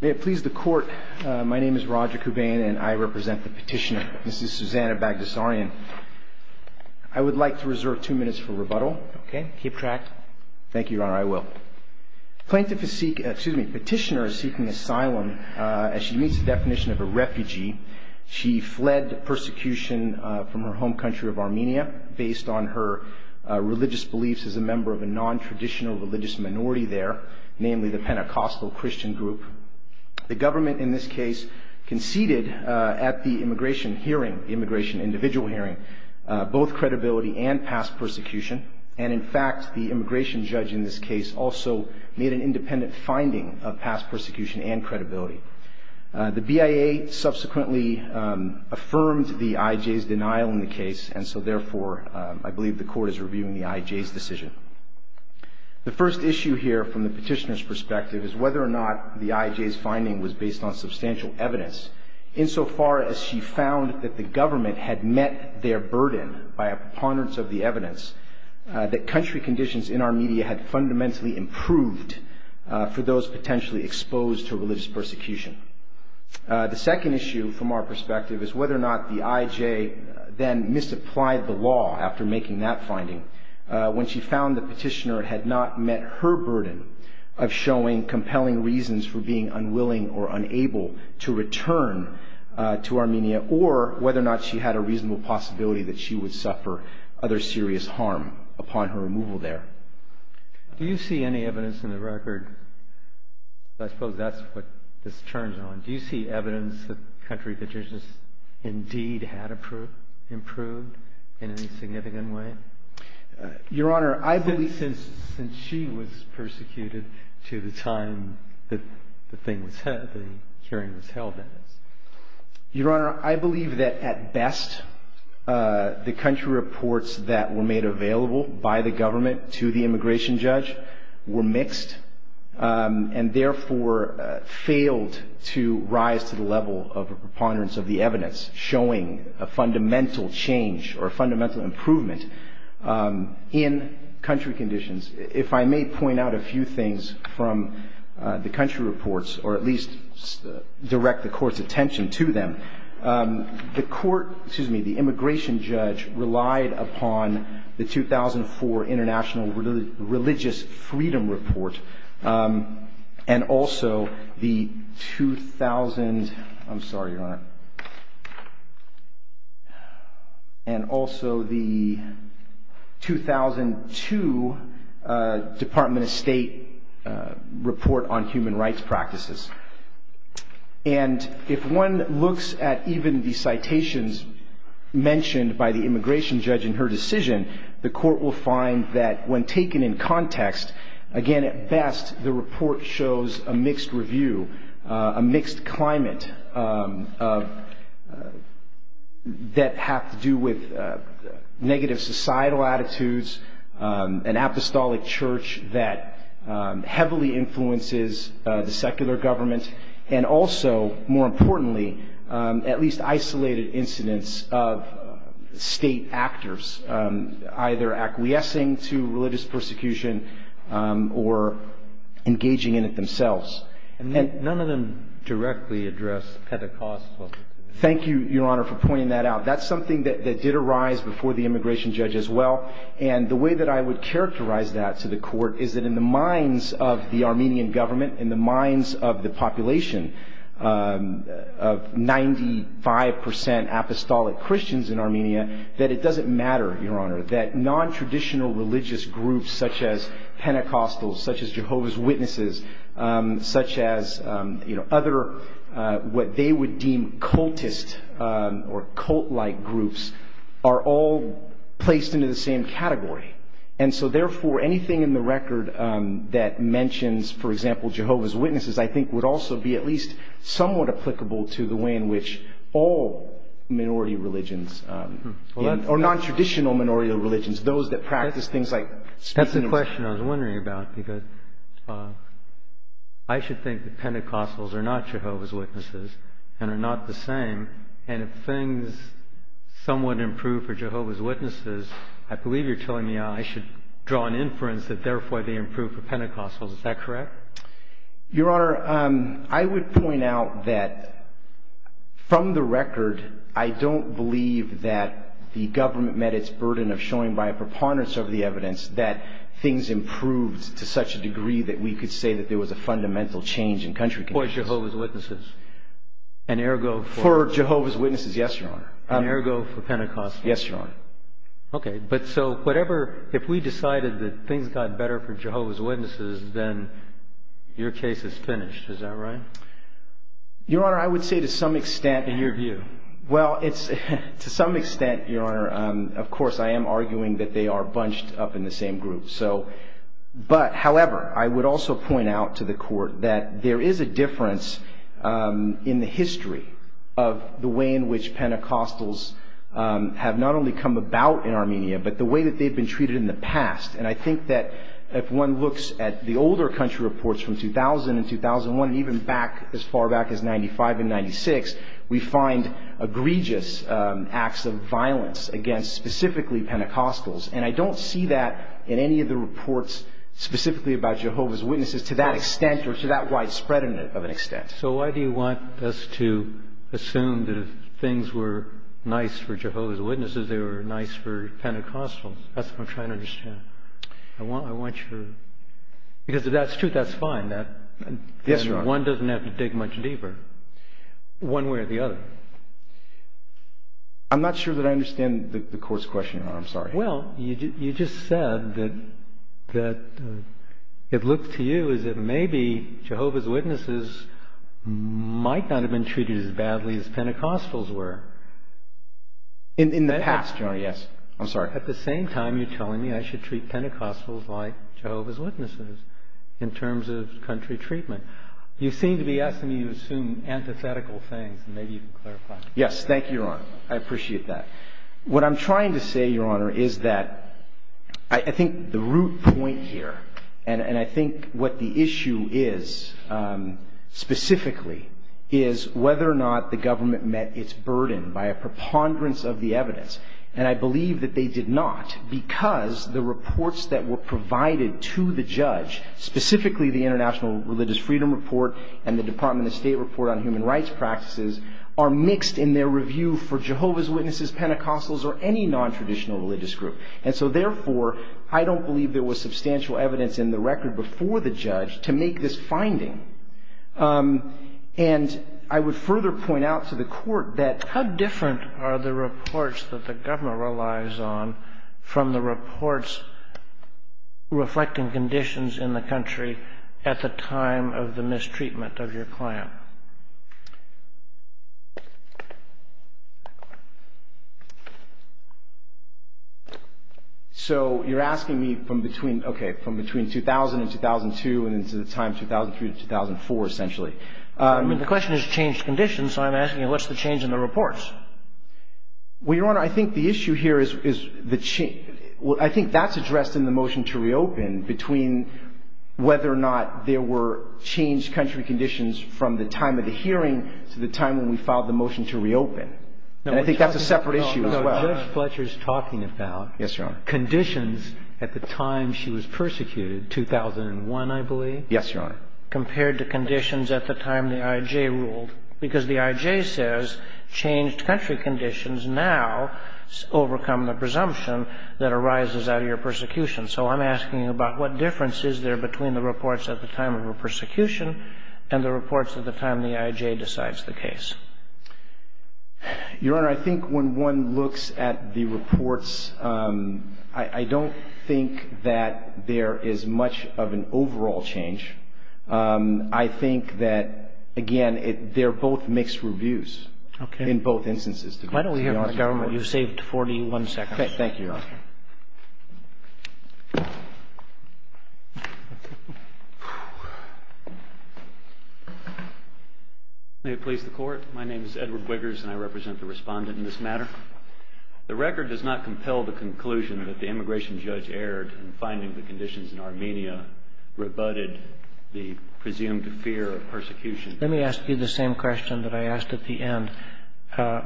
May it please the court, my name is Roger Kubain and I represent the petitioner, Mrs. Susanna Bagdasaryan. I would like to reserve two minutes for rebuttal. Okay, keep track. Thank you, Your Honor, I will. Plaintiff is seeking, excuse me, petitioner is seeking asylum as she meets the definition of a refugee. She fled persecution from her home country of Armenia based on her religious beliefs as a member of a non-traditional religious minority there, namely the Kurds. The government in this case conceded at the immigration hearing, immigration individual hearing, both credibility and past persecution and in fact the immigration judge in this case also made an independent finding of past persecution and credibility. The BIA subsequently affirmed the IJ's denial in the case and so therefore I believe the court is reviewing the IJ's decision. The first issue here from the petitioner's perspective is whether or not the IJ's finding was based on substantial evidence insofar as she found that the government had met their burden by a preponderance of the evidence that country conditions in our media had fundamentally improved for those potentially exposed to religious persecution. The second issue from our perspective is whether or not the IJ then misapplied the law after making that finding when she found the petitioner had not met her burden of showing compelling reasons for being unwilling or unable to return to Armenia or whether or not she had a reasonable possibility that she would suffer other serious harm upon her removal there. Do you see any evidence in the record, I suppose that's what this turns on, do you see evidence that country conditions indeed had improved in any significant way? Your Honor, I believe... Since she was persecuted to the time that the hearing was held. Your Honor, I believe that at best the country reports that were made available by the government to the immigration judge were mixed and therefore failed to rise to the level of a preponderance of the evidence showing a fundamental change or a fundamental improvement in country conditions. If I may point out a few things from the country reports or at least direct the court's attention to them. The court, excuse me, the immigration judge relied upon the 2004 International Religious Freedom Report and also the 2000, I'm sorry Your Honor, and also the 2002 Department of State Report on Human Rights Practices. And if one looks at even the citations mentioned by the immigration judge in her decision, the court will find that when taken in context, again at best the report shows a mixed review, a mixed climate that have to do with negative societal attitudes, an apostolic church that heavily influences the secular government, and also more importantly at least isolated incidents of state actors either acquiescing to religious persecution or engaging in it themselves. And none of them directly address Pentecostal. Thank you, Your Honor, for pointing that out. That's something that did arise before the immigration judge as well, and the way that I would characterize that to the court is that in the minds of the Armenian government, in the minds of the Armenian government, it doesn't matter, Your Honor, that non-traditional religious groups such as Pentecostals, such as Jehovah's Witnesses, such as other, what they would deem cultist or cult-like groups are all placed into the same category, and so therefore anything in the record that mentions, for example, Jehovah's Witnesses I think would also be at least somewhat applicable to the way in which all minority religions, or non-traditional minority religions, those that practice things like speech and... That's the question I was wondering about, because I should think that Pentecostals are not Jehovah's Witnesses and are not the same, and if things somewhat improve for Jehovah's Witnesses, I believe you're telling me I should draw an inference that therefore they improve for Pentecostals. Is that correct? Your Honor, I would point out that from the record, I don't believe that the government met its burden of showing by a preponderance of the evidence that things improved to such a degree that we could say that there was a fundamental change in country conditions. For Jehovah's Witnesses? For Jehovah's Witnesses, yes, Your Honor. And ergo for Pentecostals? Yes, Your Honor. Okay, but so whatever, if we decided that things got better for Jehovah's Witnesses, your case is finished, is that right? Your Honor, I would say to some extent... In your view? Well, to some extent, Your Honor, of course I am arguing that they are bunched up in the same group. However, I would also point out to the Court that there is a difference in the history of the way in which Pentecostals have not only come about in Armenia, but the way that they've been treated in the past. And I see that in the reports from 2000 and 2001, even back as far back as 95 and 96, we find egregious acts of violence against specifically Pentecostals. And I don't see that in any of the reports specifically about Jehovah's Witnesses to that extent or to that widespread of an extent. So why do you want us to assume that if things were nice for Jehovah's Witnesses, they were nice for Pentecostals? That's what I'm trying to find. One doesn't have to dig much deeper one way or the other. I'm not sure that I understand the Court's question, Your Honor. I'm sorry. Well, you just said that it looked to you as if maybe Jehovah's Witnesses might not have been treated as badly as Pentecostals were. In the past, Your Honor, yes. I'm sorry. At the same time, you're telling me I should treat Pentecostals like Jehovah's Witnesses in terms of country treatment. You seem to be asking me to assume antithetical things, and maybe you can clarify. Yes. Thank you, Your Honor. I appreciate that. What I'm trying to say, Your Honor, is that I think the root point here, and I think what the issue is specifically, is whether or not the government met its burden by a preponderance of the evidence. And I believe that they did not because the reports that were provided to the judge, specifically the International Religious Freedom Report and the Department of State Report on Human Rights Practices, are mixed in their review for Jehovah's Witnesses, Pentecostals, or any nontraditional religious group. And so therefore, I don't believe there was substantial evidence in the record before the judge to make this finding. And I would further point out to the Court that... ...from the reports, reflecting conditions in the country at the time of the mistreatment of your client. So you're asking me from between, okay, from between 2000 and 2002 and into the time 2003 to 2004, essentially. I mean, the question is changed conditions, so I'm asking you, what's the change in the reports? Well, Your Honor, I think the issue here is the change. I think that's addressed in the motion to reopen between whether or not there were changed country conditions from the time of the hearing to the time when we filed the motion to reopen. And I think that's a separate issue as well. No, Judge Fletcher's talking about... Yes, Your Honor. ...conditions at the time she was persecuted, 2001, I believe. Yes, Your Honor. ...compared to conditions at the time the I.J. ruled. Because the I.J. says, changed country conditions now overcome the presumption that arises out of your persecution. So I'm asking about what difference is there between the reports at the time of her persecution and the reports at the time the I.J. decides the case. Your Honor, I think when one looks at the reports, I don't think that there is much of an overall change. I think that, again, they're both mixed reviews. In both instances. Why don't we hear from the government? You saved 41 seconds. Thank you, Your Honor. May it please the Court? My name is Edward Wiggers and I represent the respondent in this matter. The record does not compel the conclusion that the immigration judge erred in finding the conditions in Armenia rebutted the presumed fear of persecution. Let me ask you the same question that I asked at the end.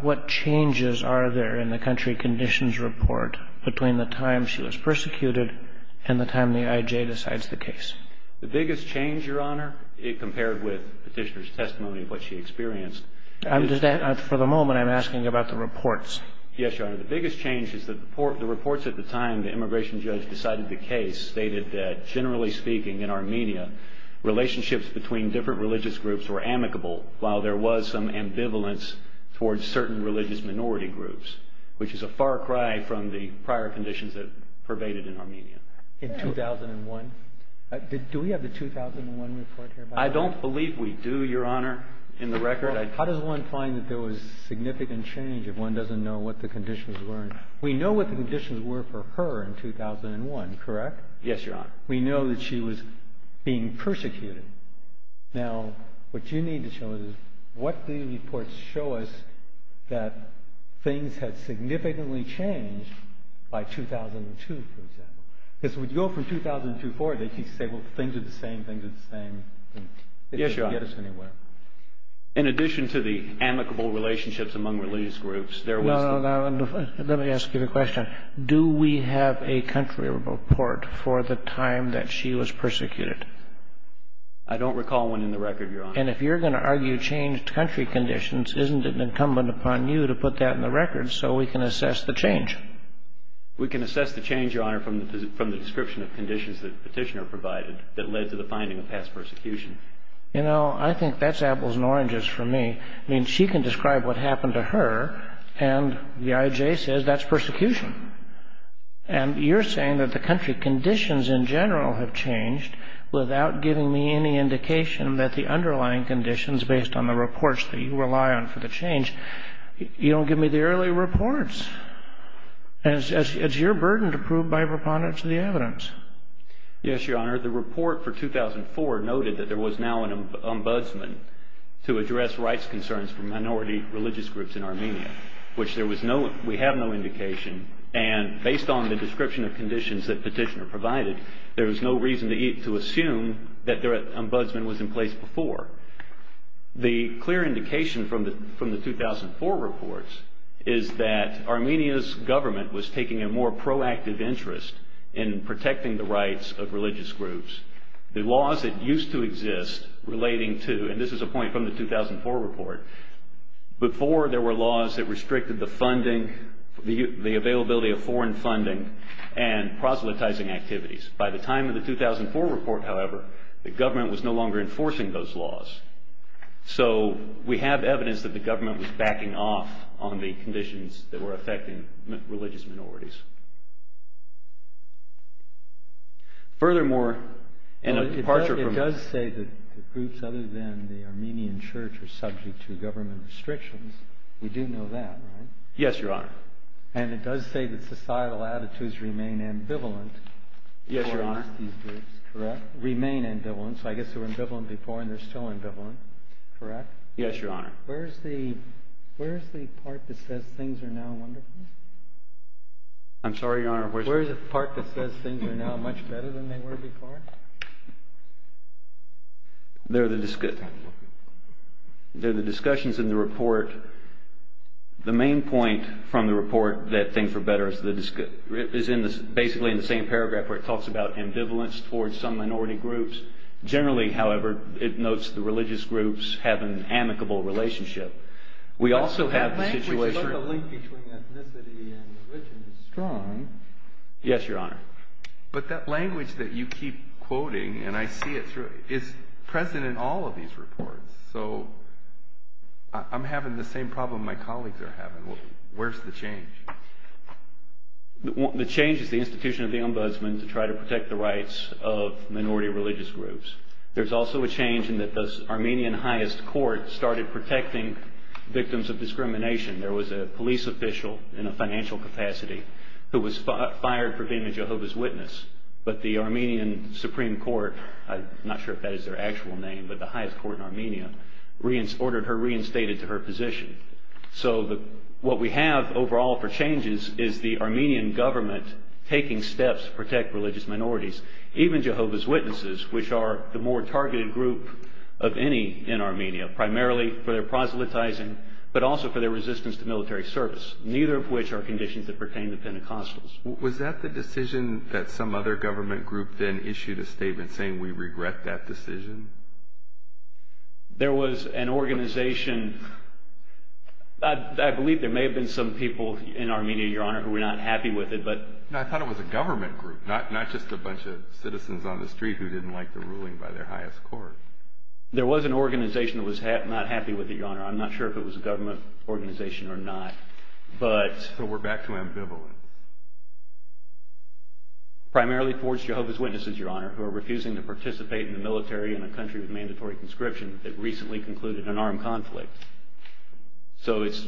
What changes are there in the country conditions report between the time she was persecuted and the time the I.J. decides the case? The biggest change, Your Honor, compared with Petitioner's testimony of what she experienced. For the moment, I'm asking about the reports. Yes, Your Honor. The biggest change is that the reports at the time the immigration judge decided the case stated that, generally speaking in Armenia, relationships between different religious groups were amicable while there was some ambivalence towards certain religious minority groups, which is a far cry from the prior conditions that pervaded in Armenia. In 2001? Do we have the 2001 report here? I don't believe we do, Your Honor, in the record. How does one find that there was significant change if one doesn't know what the conditions were? We know what the conditions were for her in 2001, correct? Yes, Your Honor. We know that she was being persecuted. Now, what you need to show us is what these reports show us that things had significantly changed by 2002, for example. Because if we go from 2002 forward, they keep saying, well, things are the same, things are the same. It doesn't get us anywhere. In addition to the amicable relationships among religious groups, there was... No, no, no. Let me ask you the question. Do we have a country report for the time that she was persecuted? I don't recall one in the record, Your Honor. And if you're going to argue changed country conditions, isn't it incumbent upon you to put that in the record so we can assess the change? We can assess the change, Your Honor, from the description of conditions that Petitioner provided that led to the finding of past persecution. You know, I think that's apples and oranges for me. I mean, she can describe what happened to her, and the IJ says that's persecution. And you're saying that the country conditions in general have changed without giving me any indication that the underlying conditions, based on the reports that you rely on for the change, you don't give me the early reports. And it's your burden to prove by preponderance of the evidence. Yes, Your Honor. The report for 2004 noted that there was now an ombudsman to address rights concerns for minority religious groups in Armenia, which there was no, we have no indication, and based on the description of conditions that Petitioner provided, there was no reason to assume that their ombudsman was in place before. The clear indication from the 2004 reports is that Armenia's government was taking a more proactive interest in protecting the rights of religious groups. The laws that used to exist relating to, and this is a point from the 2004 report, before there were laws that restricted the funding, the availability of foreign funding, and proselytizing activities. By the time of the 2004 report, however, the government was no longer enforcing those laws. So we have evidence that the government was backing off on the conditions that were affecting religious minorities. Furthermore, and a departure from... The groups other than the Armenian church are subject to government restrictions. We do know that, right? Yes, Your Honor. And it does say that societal attitudes remain ambivalent. Yes, Your Honor. Remain ambivalent, so I guess they were ambivalent before and they're still ambivalent, correct? Yes, Your Honor. Where's the part that says things are now wonderful? I'm sorry, Your Honor. Where's the part that says things are now much better than they were before? They're the discussions in the report. The main point from the report that things are better is basically in the same paragraph where it talks about ambivalence towards some minority groups. Generally, however, it notes the religious groups have an amicable relationship. We also have the situation... That language about the link between ethnicity and religion is strong. Yes, Your Honor. But that language that you keep quoting, and I see it through, is present in all of these reports, so I'm having the same problem my colleagues are having. Where's the change? The change is the institution of the ombudsman to try to protect the rights of minority religious groups. There's also a change in that the Armenian highest court started protecting victims of discrimination. There was a police official in a financial capacity who was fired for being a Jehovah's Witness, but the Armenian Supreme Court, I'm not sure if that is their actual name, but the highest court in Armenia, ordered her reinstated to her position. So what we have overall for changes is the Armenian government taking steps to protect religious minorities, even Jehovah's Witnesses, which are the more targeted group of any in Armenia, primarily for their proselytizing, but also for their resistance to military service, neither of which are conditions that pertain to Pentecostals. Was that the decision that some other government group then issued a statement saying, we regret that decision? There was an organization, I believe there may have been some people in Armenia, Your Honor, who were not happy with it, but... I thought it was a government group, not just a bunch of citizens on the street who didn't like the ruling by their highest court. There was an organization that was not happy with it, Your Honor. I'm not sure if it was a government organization or not, but... So we're back to ambivalent. Primarily towards Jehovah's Witnesses, Your Honor, who are refusing to participate in the military in a country with mandatory conscription that recently concluded an armed conflict. So it's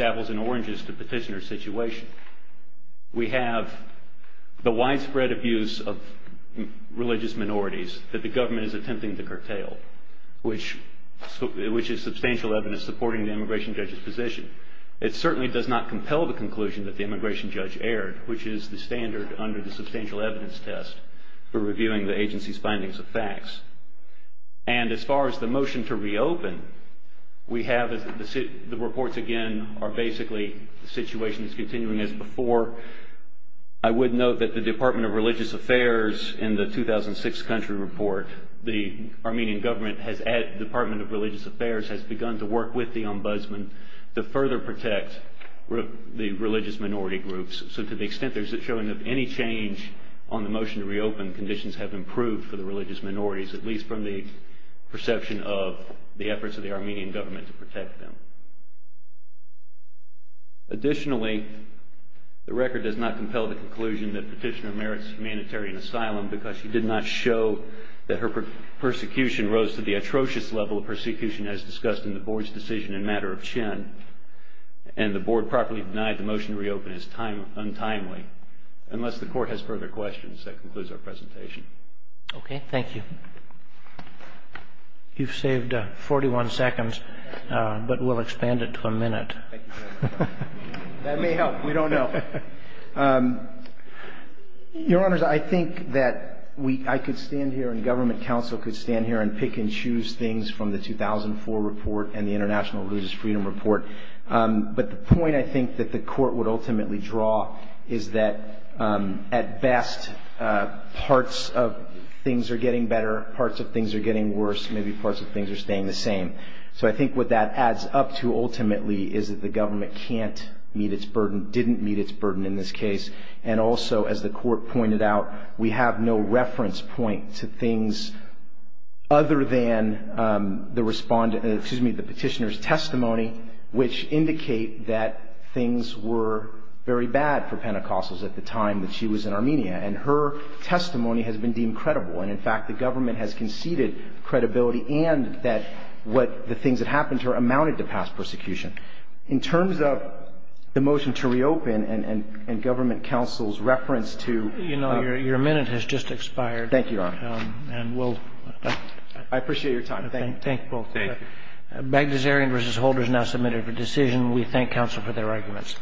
apples and oranges to petitioner situation. We have the widespread abuse of religious minorities that the government is attempting to curtail, which is substantial evidence supporting the immigration judge's position. It certainly does not compel the conclusion that the immigration judge erred, which is the standard under the substantial evidence test for reviewing the agency's findings of facts. And as far as the motion to reopen, we have the reports again are basically situations continuing as before. I would note that the Department of Religious Affairs in the 2006 country report, the Armenian government has, the Department of Religious Affairs has begun to work with the ombudsman. The further protect the religious minority groups. So to the extent there's a showing of any change on the motion to reopen, conditions have improved for the religious minorities, at least from the perception of the efforts of the Armenian government to protect them. Additionally, the record does not compel the conclusion that petitioner merits humanitarian asylum because she did not show that her persecution rose to the atrocious level of persecution as discussed in the board's decision in matter of Chin and the board properly denied the motion to reopen is untimely unless the court has further questions. That concludes our presentation. Okay. Thank you. You've saved a 41 seconds, but we'll expand it to a minute. That may help. We don't know. Um, your honors, I think that we, I could stand here and government council could stand here and pick and choose things from the 2004 report and the national religious freedom report. Um, but the point I think that the court would ultimately draw is that, um, at best, uh, parts of things are getting better. Parts of things are getting worse. Maybe parts of things are staying the same. So I think what that adds up to ultimately is that the government can't meet its burden, didn't meet its burden in this case. And also, as the court pointed out, we have no reference point to things other than, um, the respondent, excuse me, the petitioner's testimony, which indicate that things were very bad for Pentecostals at the time that she was in Armenia. And her testimony has been deemed credible. And in fact, the government has conceded credibility and that what the things that happened to her amounted to past persecution in terms of the motion to reopen and, and, and government councils reference to, you know, your, your minute has just expired. Thank you. And we'll, I appreciate your time. Thank you. Thank you both. Thank you. Bagdasarian versus Holder is now submitted for decision. We thank counsel for their arguments.